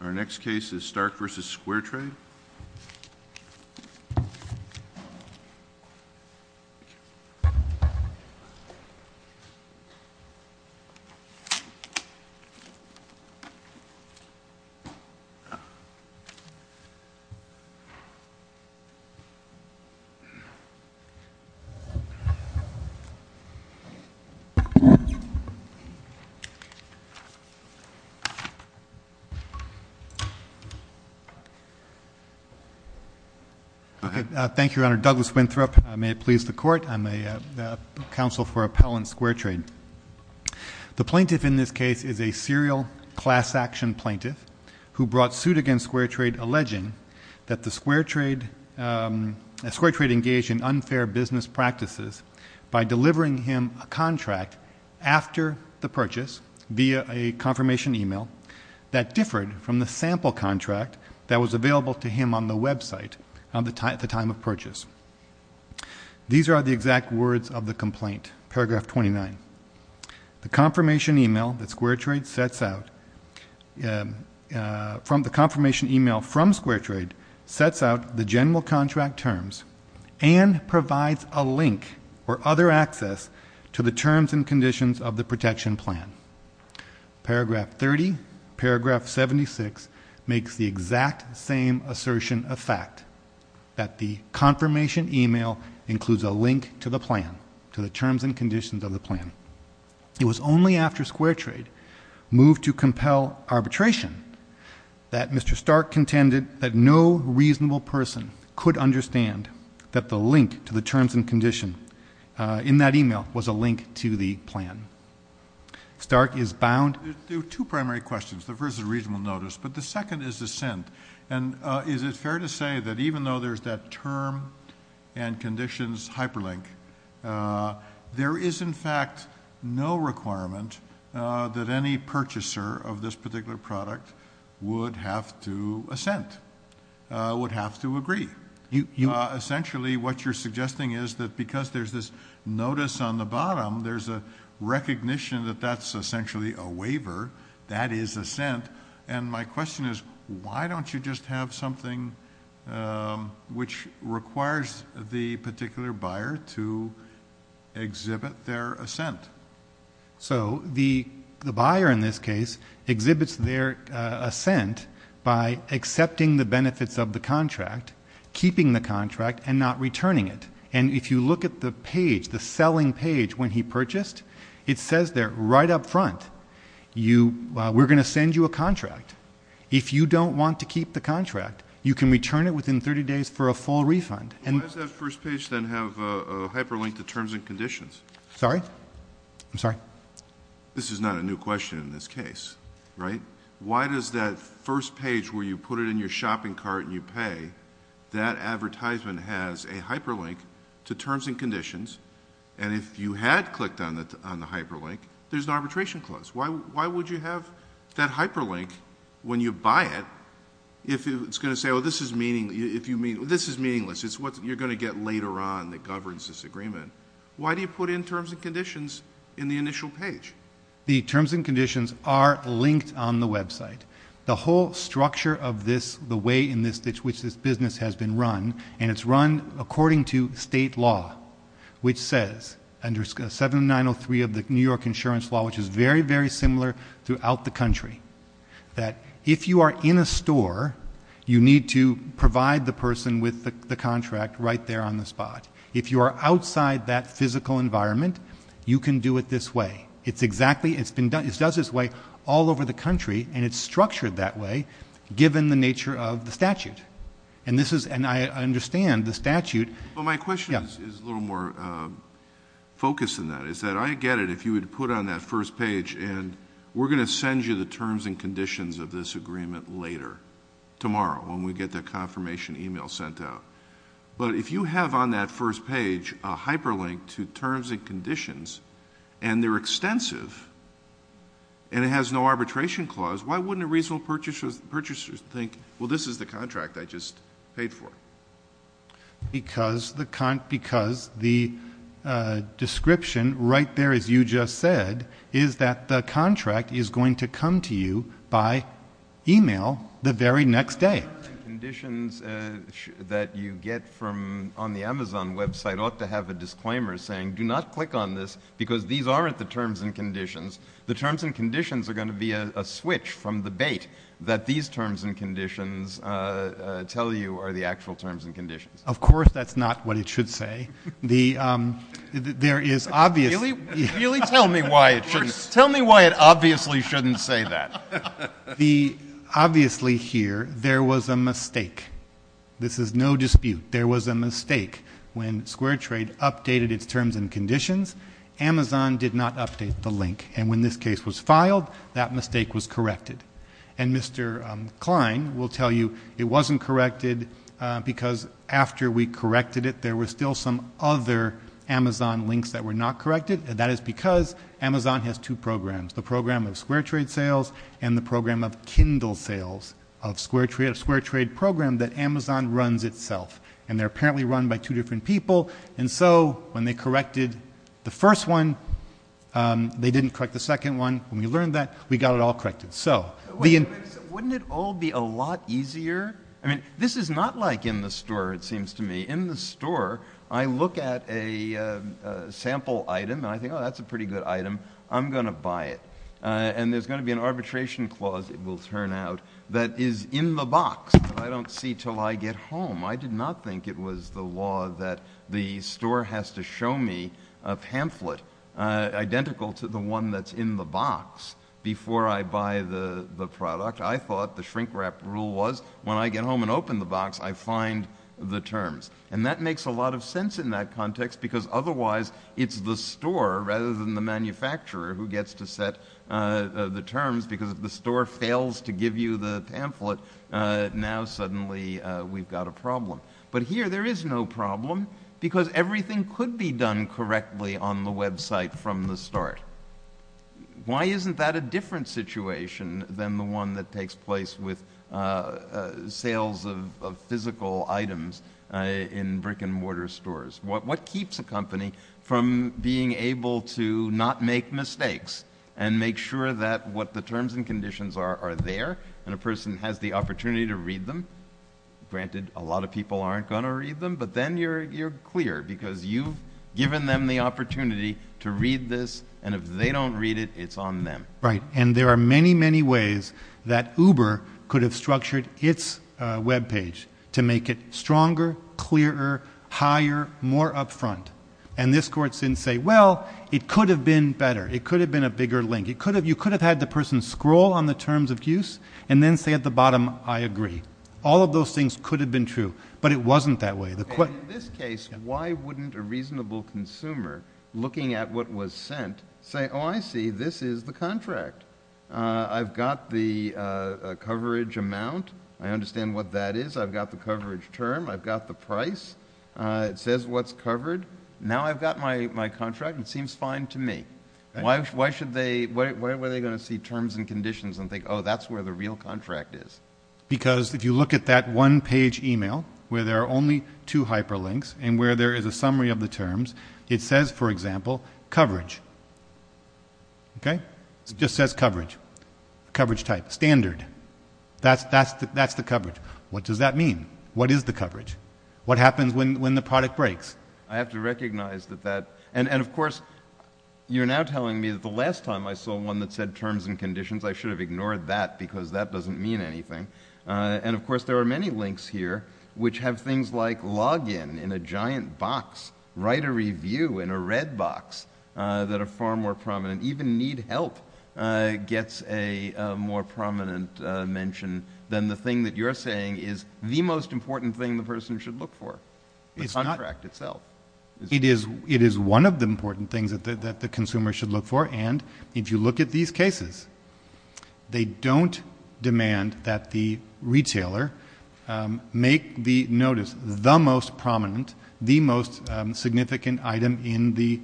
Our next case is Starke v. SquareTrade. The plaintiff in this case is a serial class-action plaintiff who brought suit against SquareTrade alleging that SquareTrade engaged in unfair business practices by delivering him a contract after the purchase via a confirmation email that differed from the sample contract that was available to him on the website at the time of purchase. These are the exact words of the complaint, paragraph 29. The confirmation email from SquareTrade sets out the general contract terms and provides a link or other access to the terms and conditions of the protection plan. Paragraph 30, paragraph 76 makes the exact same assertion of fact that the confirmation email includes a link to the plan, to the terms and conditions of the plan. It was only after SquareTrade moved to compel arbitration that Mr. Starke contended that no reasonable person could understand that the link to the terms and condition in that email was a link to the plan. Starke is bound. There are two primary questions. The first is a reasonable notice, but the second is assent, and is it fair to say that even though there's that term and conditions hyperlink, there is, in fact, no requirement that any purchaser of this particular product would have to assent, would have to agree? Essentially what you're suggesting is that because there's this notice on the bottom, there's a recognition that that's essentially a waiver, that is assent, and my question is why don't you just have something which requires the particular buyer to exhibit their assent? So the buyer in this case exhibits their assent by accepting the benefits of the contract, keeping the contract, and not returning it, and if you look at the page, the selling page when he purchased, it says there right up front, we're going to send you a contract. If you don't want to keep the contract, you can return it within 30 days for a full refund. Why does that first page then have a hyperlink to terms and conditions? Sorry? I'm sorry? This is not a new question in this case, right? Why does that first page where you put it in your shopping cart and you pay, that advertisement has a hyperlink to terms and conditions, and if you had clicked on the hyperlink, there's an arbitration clause. Why would you have that hyperlink when you buy it if it's going to say, well, this is meaningless, it's what you're going to get later on that governs this agreement? Why do you put in terms and conditions in the initial page? The terms and conditions are linked on the website. The whole structure of this, the way in which this business has been run, and it's run according to state law, which says, under 7903 of the New York insurance law, which is very, very similar throughout the country, that if you are in a store, you need to provide the person with the contract right there on the spot. If you are outside that physical environment, you can do it this way. It's exactly, it's been done, it's done this way all over the country, and it's structured that way, given the nature of the statute. And this is, and I understand the statute. Well, my question is a little more focused than that, is that I get it if you would put on that first page, and we're going to send you the terms and conditions of this agreement later, tomorrow, when we get that confirmation email sent out. But if you have on that first page a hyperlink to terms and conditions, and they're extensive, and it has no arbitration clause, why wouldn't a reasonable purchaser think, well, this is the contract I just paid for? Because the description right there, as you just said, is that the contract is going to come to you by email the very next day. The terms and conditions that you get from, on the Amazon website ought to have a disclaimer saying, do not click on this, because these aren't the terms and conditions. The terms and conditions are going to be a switch from the bait that these terms and conditions tell you are the actual terms and conditions. Of course that's not what it should say. There is obviously... Really tell me why it shouldn't, tell me why it obviously shouldn't say that. Obviously here, there was a mistake. This is no dispute. There was a mistake. When Square Trade updated its terms and conditions, Amazon did not update the link. And when this case was filed, that mistake was corrected. And Mr. Klein will tell you it wasn't corrected because after we corrected it, there were still some other Amazon links that were not corrected, and that is because Amazon has two programs, the program of Square Trade sales and the program of Kindle sales, a Square Trade program that Amazon runs itself. And they're apparently run by two different people, and so when they corrected the first one, they didn't correct the second one. When we learned that, we got it all corrected. So... Wouldn't it all be a lot easier? I mean, this is not like in the store, it seems to me. In the store, I look at a sample item, and I think, oh, that's a pretty good item. I'm going to buy it. And there's going to be an arbitration clause, it will turn out, that is in the box that I don't see until I get home. I did not think it was the law that the store has to show me a pamphlet identical to the one that's in the box before I buy the product. I thought the shrink-wrap rule was when I get home and open the box, I find the terms. And that makes a lot of sense in that context because otherwise, it's the store rather than the manufacturer who gets to set the terms because if the store fails to give you the pamphlet, now suddenly we've got a problem. But here, there is no problem because everything could be done correctly on the website from the start. Why isn't that a different situation than the one that takes place with sales of physical items in brick-and-mortar stores? What keeps a company from being able to not make mistakes and make sure that what the terms and conditions are are there and a person has the opportunity to read them? Granted, a lot of people aren't going to read them, but then you're clear because you've given them the opportunity to read this and if they don't read it, it's on them. Right. And there are many, many ways that Uber could have structured its webpage to make it stronger, clearer, higher, more upfront. And this court didn't say, well, it could have been better. It could have been a bigger link. You could have had the person scroll on the terms of use and then say at the bottom, I agree. All of those things could have been true, but it wasn't that way. In this case, why wouldn't a reasonable consumer looking at what was sent say, oh, I see, this is the contract. I've got the coverage amount. I understand what that is. I've got the coverage term. I've got the price. It says what's covered. Now I've got my contract and it seems fine to me. Why were they going to see terms and conditions and think, oh, that's where the real contract is? Because if you look at that one-page email where there are only two hyperlinks and where there is a summary of the terms, it says, for example, coverage. Okay? It just says coverage, coverage type, standard. That's the coverage. What does that mean? What is the coverage? What happens when the product breaks? I have to recognize that that and, of course, you're now telling me that the last time I saw one that said terms and conditions, I should have ignored that because that doesn't mean anything. And, of course, there are many links here which have things like login in a giant box, write a review in a red box that are far more prominent. Even need help gets a more prominent mention than the thing that you're saying is the most important thing the person should look for, the contract itself. It is one of the important things that the consumer should look for, and if you look at these cases, they don't demand that the retailer make the notice the most prominent, the most significant item in the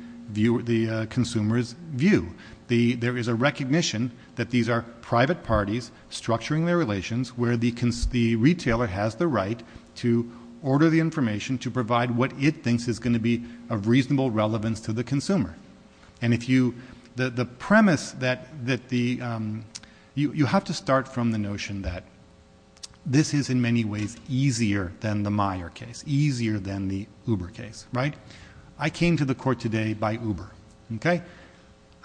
consumer's view. There is a recognition that these are private parties structuring their relations where the retailer has the right to order the information to provide what it thinks is going to be of reasonable relevance to the consumer. And if you, the premise that the, you have to start from the notion that this is in many ways easier than the Meyer case, it's easier than the Uber case, right? I came to the court today by Uber, okay?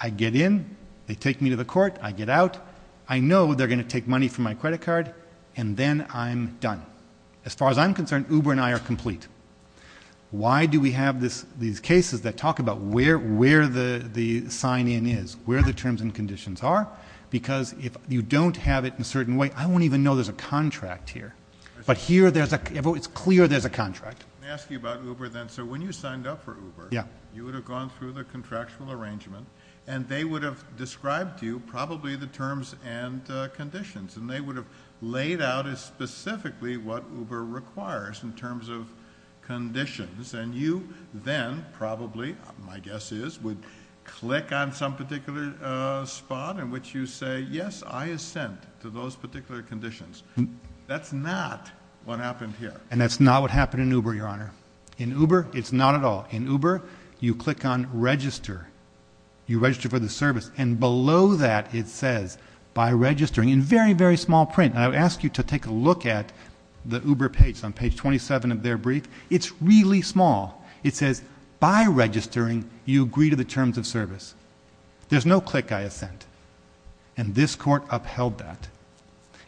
I get in, they take me to the court, I get out, I know they're going to take money from my credit card, and then I'm done. As far as I'm concerned, Uber and I are complete. Why do we have these cases that talk about where the sign-in is, where the terms and conditions are? Because if you don't have it in a certain way, I won't even know there's a contract here. But here it's clear there's a contract. Let me ask you about Uber then. So when you signed up for Uber, you would have gone through the contractual arrangement, and they would have described to you probably the terms and conditions, and they would have laid out specifically what Uber requires in terms of conditions, and you then probably, my guess is, would click on some particular spot in which you say, yes, I assent to those particular conditions. That's not what happened here. And that's not what happened in Uber, Your Honor. In Uber, it's not at all. In Uber, you click on register. You register for the service, and below that it says, by registering, in very, very small print, and I would ask you to take a look at the Uber page. It's on page 27 of their brief. It's really small. It says, by registering, you agree to the terms of service. There's no click I assent. And this court upheld that.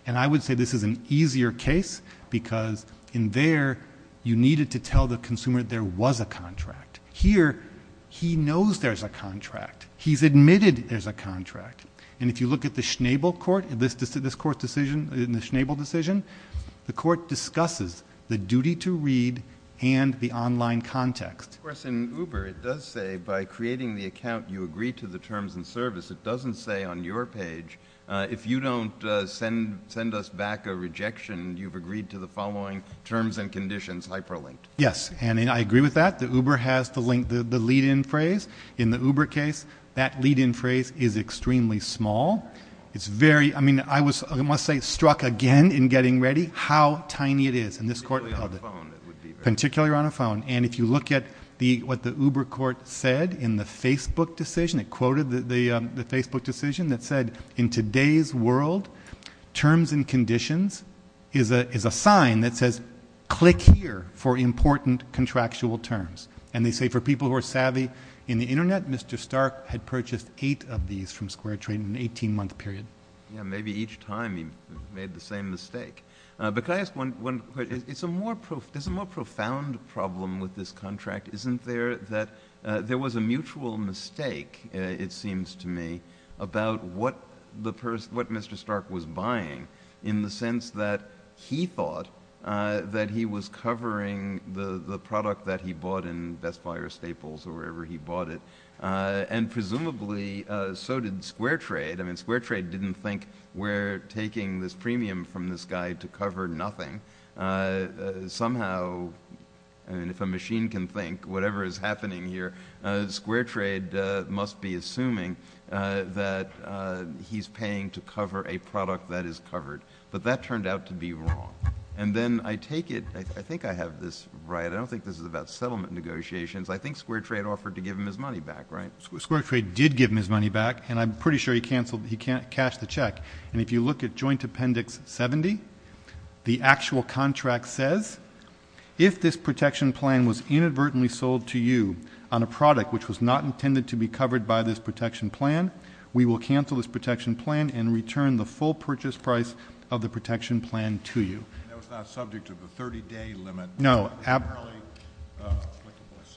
And I would say this is an easier case because in there, you needed to tell the consumer there was a contract. Here, he knows there's a contract. He's admitted there's a contract. And if you look at the Schnabel court, this court's decision, the Schnabel decision, the court discusses the duty to read and the online context. Of course, in Uber, it does say, by creating the account, you agree to the terms and service. It doesn't say on your page, if you don't send us back a rejection, you've agreed to the following terms and conditions, hyperlinked. Yes, and I agree with that. The Uber has the lead-in phrase. In the Uber case, that lead-in phrase is extremely small. It's very, I mean, I was, I must say, struck again in getting ready how tiny it is, and this court upheld it. Particularly on a phone, it would be very small. Particularly on a phone. And if you look at what the Uber court said in the Facebook decision, it quoted the Facebook decision that said, in today's world, terms and conditions is a sign that says, click here for important contractual terms. And they say, for people who are savvy in the Internet, Mr. Stark had purchased eight of these from Square Trade in an 18-month period. Yeah, maybe each time he made the same mistake. But can I ask one question? There's a more profound problem with this contract, isn't there, that there was a mutual mistake, it seems to me, about what Mr. Stark was buying, in the sense that he thought that he was covering the product that he bought in Best Buy or Staples or wherever he bought it. And presumably, so did Square Trade. I mean, Square Trade didn't think, we're taking this premium from this guy to cover nothing. Somehow, if a machine can think, whatever is happening here, Square Trade must be assuming that he's paying to cover a product that is covered. But that turned out to be wrong. And then I take it, I think I have this right, I don't think this is about settlement negotiations, I think Square Trade offered to give him his money back, right? Square Trade did give him his money back, and I'm pretty sure he canceled, he cashed the check. And if you look at Joint Appendix 70, the actual contract says, if this protection plan was inadvertently sold to you on a product which was not intended to be covered by this protection plan, we will cancel this protection plan and return the full purchase price of the protection plan to you. That was not subject to the 30-day limit. No,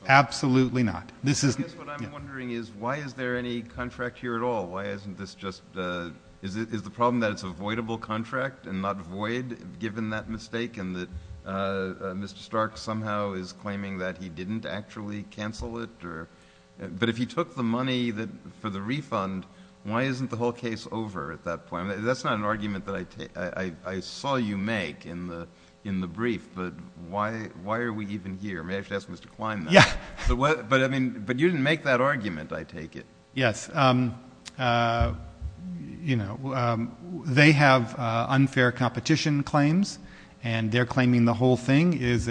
absolutely not. I guess what I'm wondering is, why is there any contract here at all? Is the problem that it's a voidable contract and not void, given that mistake, and that Mr. Stark somehow is claiming that he didn't actually cancel it? But if he took the money for the refund, why isn't the whole case over at that point? That's not an argument that I saw you make in the brief, but why are we even here? Maybe I should ask Mr. Klein that. But you didn't make that argument, I take it. Yes. They have unfair competition claims, and their claiming the whole thing is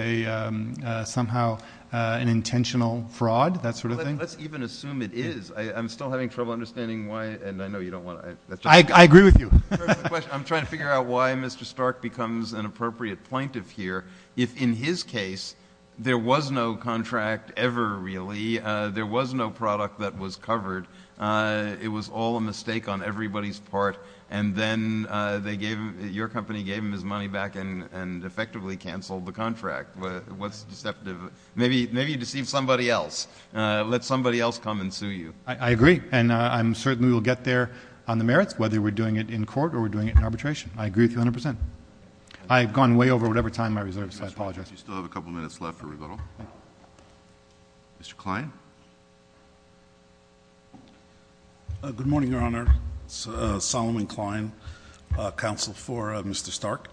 somehow an intentional fraud, that sort of thing. Let's even assume it is. I'm still having trouble understanding why, and I know you don't want to. I agree with you. I'm trying to figure out why Mr. Stark becomes an appropriate plaintiff here if, in his case, there was no contract ever, really. There was no product that was covered. It was all a mistake on everybody's part, and then your company gave him his money back and effectively canceled the contract. What's deceptive? Maybe you deceived somebody else. Let somebody else come and sue you. I agree, and I certainly will get there on the merits, whether we're doing it in court or we're doing it in arbitration. I agree with you 100%. I've gone way over whatever time I reserved, so I apologize. You still have a couple minutes left for rebuttal. Mr. Klein. Good morning, Your Honor. It's Solomon Klein, counsel for Mr. Stark.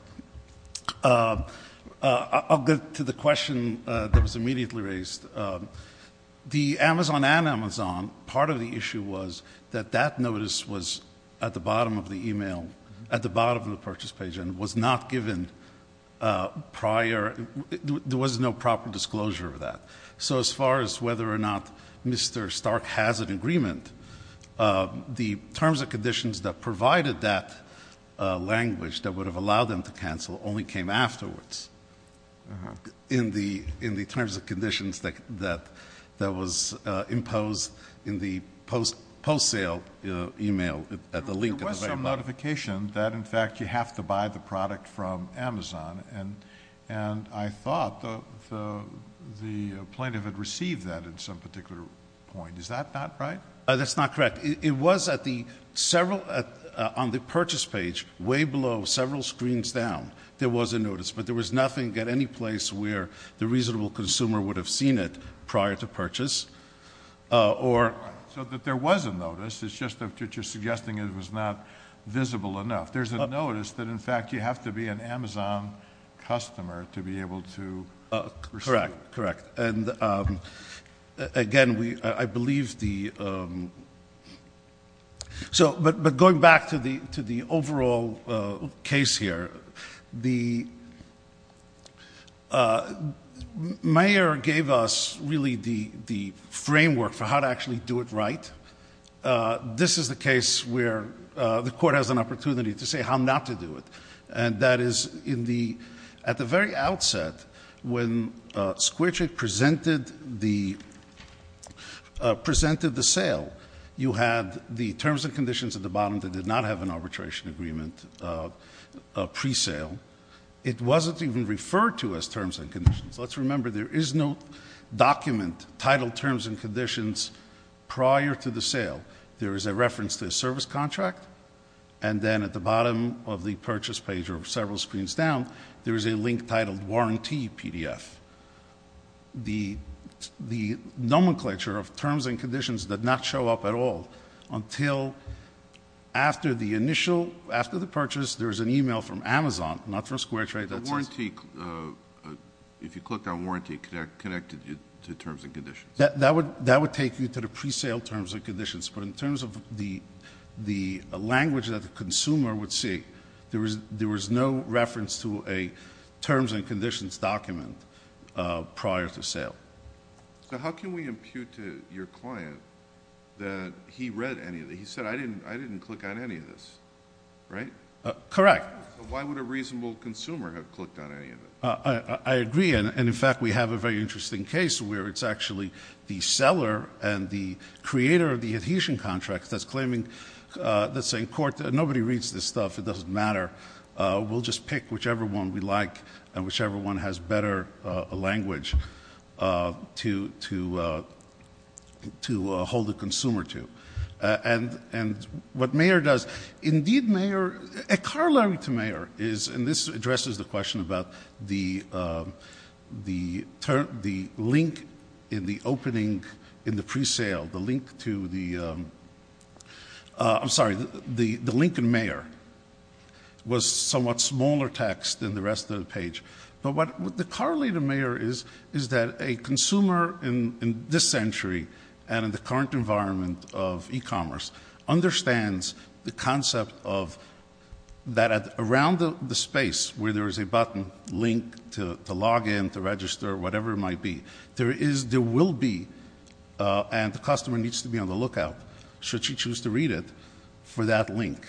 I'll get to the question that was immediately raised. The Amazon and Amazon, part of the issue was that that notice was at the bottom of the e-mail, at the bottom of the purchase page, and was not given prior. There was no proper disclosure of that. So as far as whether or not Mr. Stark has an agreement, the terms and conditions that provided that language that would have allowed them to cancel only came afterwards, in the terms and conditions that was imposed in the post-sale e-mail at the link at the very bottom. There was some notification that, in fact, you have to buy the product from Amazon, and I thought the plaintiff had received that at some particular point. Is that not right? That's not correct. It was on the purchase page, way below, several screens down, there was a notice, but there was nothing at any place where the reasonable consumer would have seen it prior to purchase. So that there was a notice, it's just that you're suggesting it was not visible enough. There's a notice that, in fact, you have to be an Amazon customer to be able to receive it. Correct, correct. And again, I believe the... But going back to the overall case here, the mayor gave us really the framework for how to actually do it right. This is the case where the court has an opportunity to say how not to do it. And that is, at the very outset, when Squirtric presented the sale, you had the terms and conditions at the bottom that did not have an arbitration agreement pre-sale. It wasn't even referred to as terms and conditions. Let's remember, there is no document titled terms and conditions prior to the sale. There is a reference to a service contract, and then at the bottom of the purchase page, or several screens down, there is a link titled Warranty PDF. The nomenclature of terms and conditions did not show up at all until after the initial... after the purchase, there was an email from Amazon, not from Squirtrate... and you clicked on Warranty connected to terms and conditions. That would take you to the pre-sale terms and conditions. But in terms of the language that the consumer would see, there was no reference to a terms and conditions document prior to sale. So how can we impute to your client that he read any of it? He said, I didn't click on any of this, right? Correct. Why would a reasonable consumer have clicked on any of it? I agree, and in fact, we have a very interesting case where it's actually the seller and the creator of the adhesion contract that's claiming... that's saying, nobody reads this stuff, it doesn't matter. We'll just pick whichever one we like, and whichever one has better language to hold the consumer to. And what Mayer does, indeed Mayer... a corollary to Mayer is, and this addresses the question about the link in the opening... in the pre-sale, the link to the... I'm sorry, the link in Mayer was somewhat smaller text than the rest of the page. But what the corollary to Mayer is, is that a consumer in this century... and in the current environment of e-commerce, understands the concept of... that around the space where there is a button, link to log in, to register, whatever it might be... there is, there will be, and the customer needs to be on the lookout... should she choose to read it, for that link.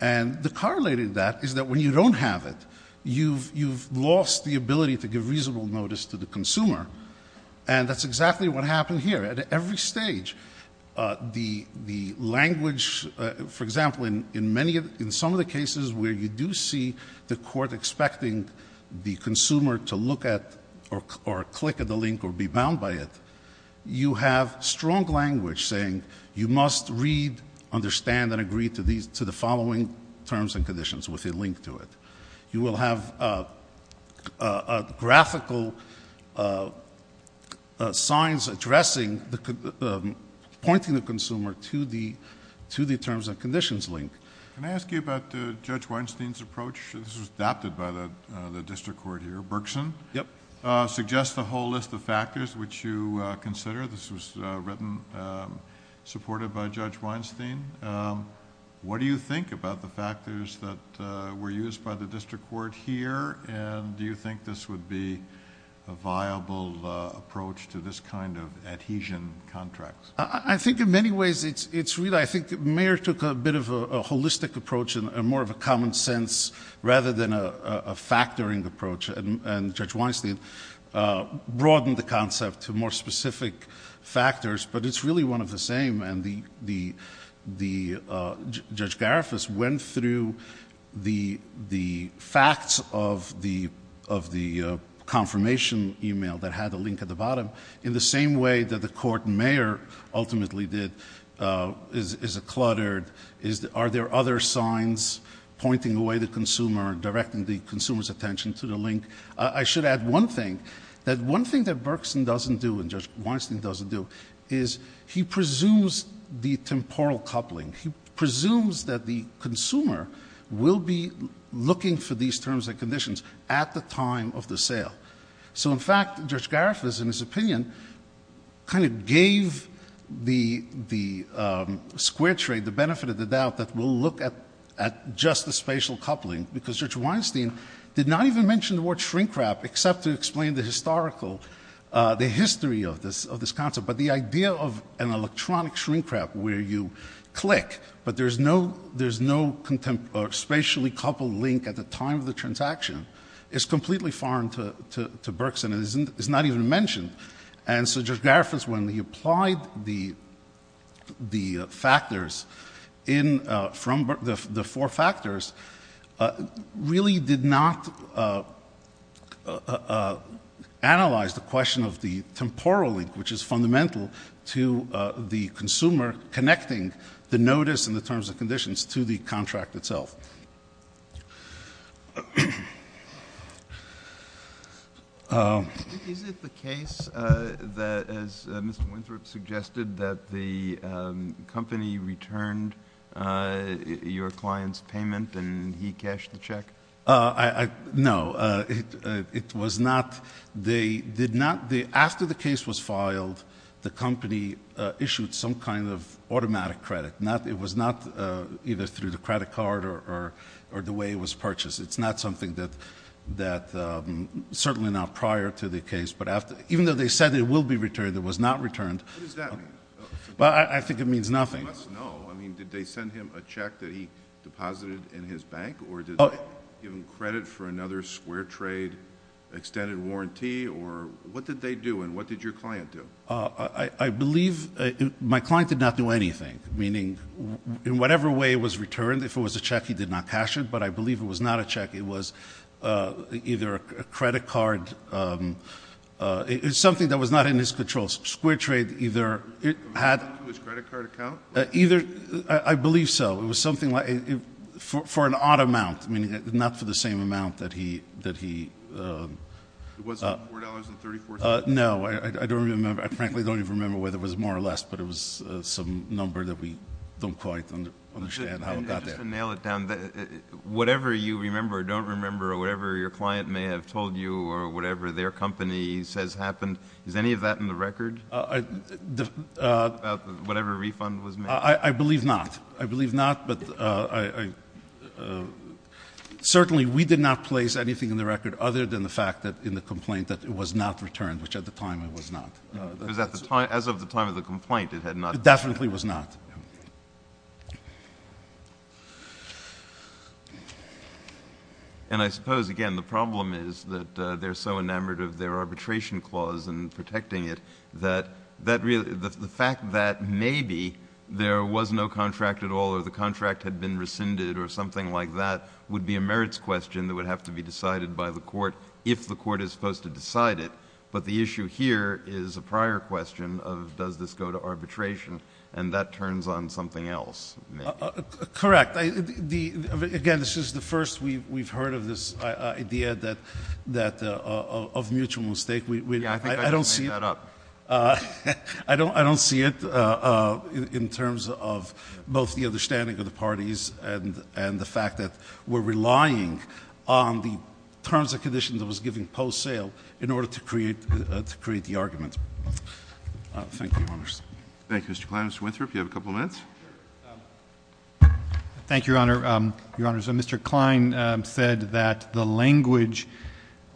And the corollary to that is that when you don't have it... you've lost the ability to give reasonable notice to the consumer. And that's exactly what happened here. At every stage, the language... for example, in many, in some of the cases where you do see the court expecting... the consumer to look at, or click at the link, or be bound by it... you have strong language saying, you must read, understand and agree to these... to the following terms and conditions with a link to it. You will have graphical signs addressing... pointing the consumer to the terms and conditions link. Can I ask you about Judge Weinstein's approach? This was adopted by the District Court here. Berkson? Yep. Suggests a whole list of factors, which you consider. This was written, supported by Judge Weinstein. What do you think about the factors that were used by the District Court here? And do you think this would be a viable approach to this kind of adhesion contract? I think in many ways, it's really... I think the Mayor took a bit of a holistic approach and more of a common sense... rather than a factoring approach. And Judge Weinstein broadened the concept to more specific factors. But it's really one of the same. And Judge Gariffas went through the facts of the confirmation email that had the link at the bottom... in the same way that the Court and Mayor ultimately did. Is it cluttered? Are there other signs pointing away the consumer, directing the consumer's attention to the link? I should add one thing. That one thing that Berkson doesn't do and Judge Weinstein doesn't do... is the temporal coupling. He presumes that the consumer will be looking for these terms and conditions at the time of the sale. So, in fact, Judge Gariffas, in his opinion, kind of gave the Square Trade the benefit of the doubt... that we'll look at just the spatial coupling. Because Judge Weinstein did not even mention the word shrink-wrap... except to explain the historical... the history of this concept. But, the idea of an electronic shrink-wrap where you click... but there's no spatially coupled link at the time of the transaction... is completely foreign to Berkson. It's not even mentioned. And, so Judge Gariffas, when he applied the factors in... from the four factors... to the consumer connecting the notice and the terms and conditions to the contract itself. Is it the case that, as Mr. Winthrop suggested, that the company returned your client's payment and he cashed the check? No. It was not... they did not... after the case was filed... the company issued some kind of automatic credit. It was not either through the credit card or the way it was purchased. It's not something that... certainly not prior to the case. But, even though they said it will be returned, it was not returned. What does that mean? Well, I think it means nothing. I mean, did they send him a check that he deposited in his bank? Or, did they give him credit for another Square Trade extended warranty? Or, what did they do? And, what did your client do? I believe... my client did not do anything. Meaning, in whatever way it was returned, if it was a check, he did not cash it. But, I believe it was not a check. It was either a credit card... it was something that was not in his control. Square Trade either... it had... Either... I believe so. It was something like... for an odd amount. Meaning, not for the same amount that he... It wasn't $4.34? No. I don't remember. I frankly don't even remember whether it was more or less. But, it was some number that we don't quite understand how it got there. Just to nail it down, whatever you remember or don't remember, or whatever your client may have told you, or whatever their company says happened, is any of that in the record? About whatever refund was made? I believe not. I believe not, but I... Certainly, we did not place anything in the record other than the fact that, in the complaint, that it was not returned, which at the time, it was not. Because at the time... as of the time of the complaint, it had not... It definitely was not. And, I suppose, again, the problem is that they're so enamored of their arbitration clause and protecting it, that the fact that maybe there was no contract at all, or the contract had been rescinded, or something like that, would be a merits question that would have to be decided by the court, if the court is supposed to decide it. But, the issue here is a prior question of, does this go to arbitration? And, that turns on something else. Correct. Again, this is the first we've heard of this idea of mutual mistake. Yeah, I think I just made that up. I don't see it in terms of both the understanding of the parties and the fact that we're relying on the terms and conditions that was given post-sale in order to create the argument. Thank you, Your Honors. Thank you, Mr. Kline. Mr. Winthrop, you have a couple of minutes. Thank you, Your Honor. Mr. Kline said that the language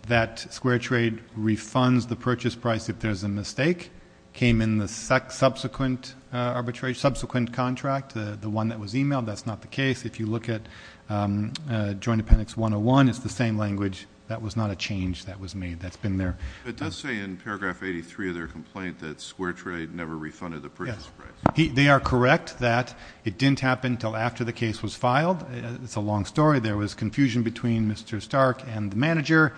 that Square Trade refunds the purchase price if there's a mistake came in the subsequent arbitration, subsequent contract, the one that was emailed. That's not the case. If you look at Joint Appendix 101, it's the same language. That was not a change that was made. That's been there. It does say in paragraph 83 of their complaint that Square Trade never refunded the purchase price. They are correct that it didn't happen until after the case was filed. It's a long story. There was confusion between Mr. Stark and the manager.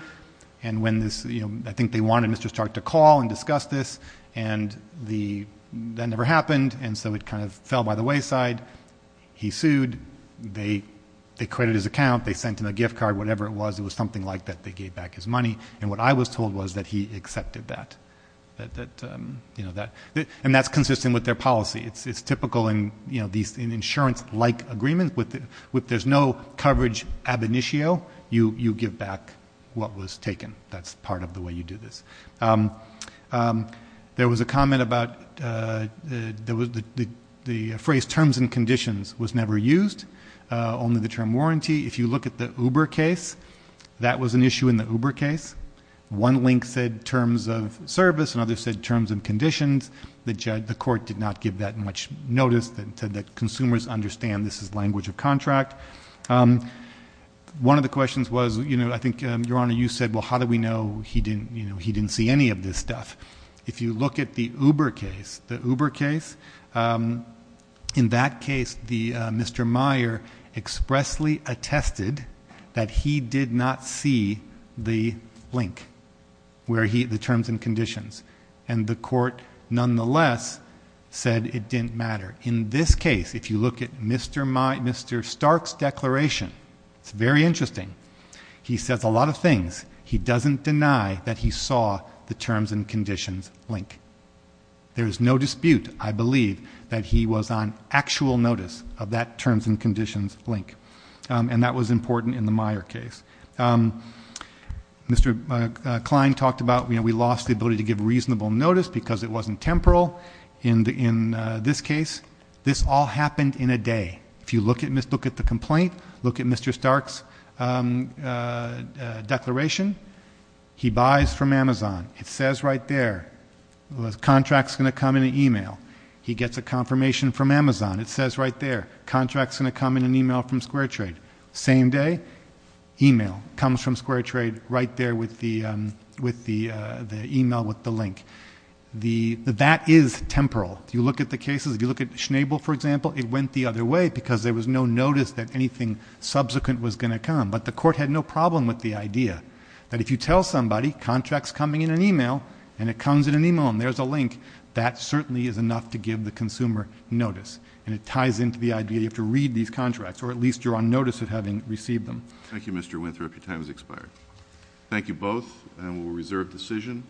I think they wanted Mr. Stark to call and discuss this, and that never happened. And so it kind of fell by the wayside. He sued. They credited his account. They sent him a gift card, whatever it was. It was something like that. They gave back his money. And what I was told was that he accepted that. And that's consistent with their policy. It's typical in insurance-like agreements. If there's no coverage ab initio, you give back what was taken. That's part of the way you do this. There was a comment about the phrase terms and conditions was never used, only the term warranty. If you look at the Uber case, that was an issue in the Uber case. One link said terms of service. Another said terms and conditions. The court did not give that much notice, that consumers understand this is language of contract. One of the questions was, I think, Your Honor, you said, well, how do we know he didn't see any of this stuff? If you look at the Uber case, the Uber case, in that case, Mr. Meyer expressly attested that he did not see the link, the terms and conditions. And the court, nonetheless, said it didn't matter. In this case, if you look at Mr. Stark's declaration, it's very interesting. He says a lot of things. He doesn't deny that he saw the terms and conditions link. There's no dispute, I believe, that he was on actual notice. Of that terms and conditions link. And that was important in the Meyer case. Mr. Klein talked about, you know, we lost the ability to give reasonable notice because it wasn't temporal. In this case, this all happened in a day. If you look at the complaint, look at Mr. Stark's declaration, he buys from Amazon. It says right there, the contract's going to come in an e-mail. He gets a confirmation from Amazon. It says right there, contract's going to come in an e-mail from Square Trade. Same day, e-mail. Comes from Square Trade right there with the e-mail with the link. That is temporal. If you look at the cases, if you look at Schnabel, for example, it went the other way because there was no notice that anything subsequent was going to come. But the court had no problem with the idea that if you tell somebody, contract's coming in an e-mail, and it comes in an e-mail, and there's a link, that certainly is enough to give the consumer notice. And it ties into the idea that you have to read these contracts, or at least you're on notice of having received them. Thank you, Mr. Winthrop. Your time has expired. Thank you both, and we'll reserve decision.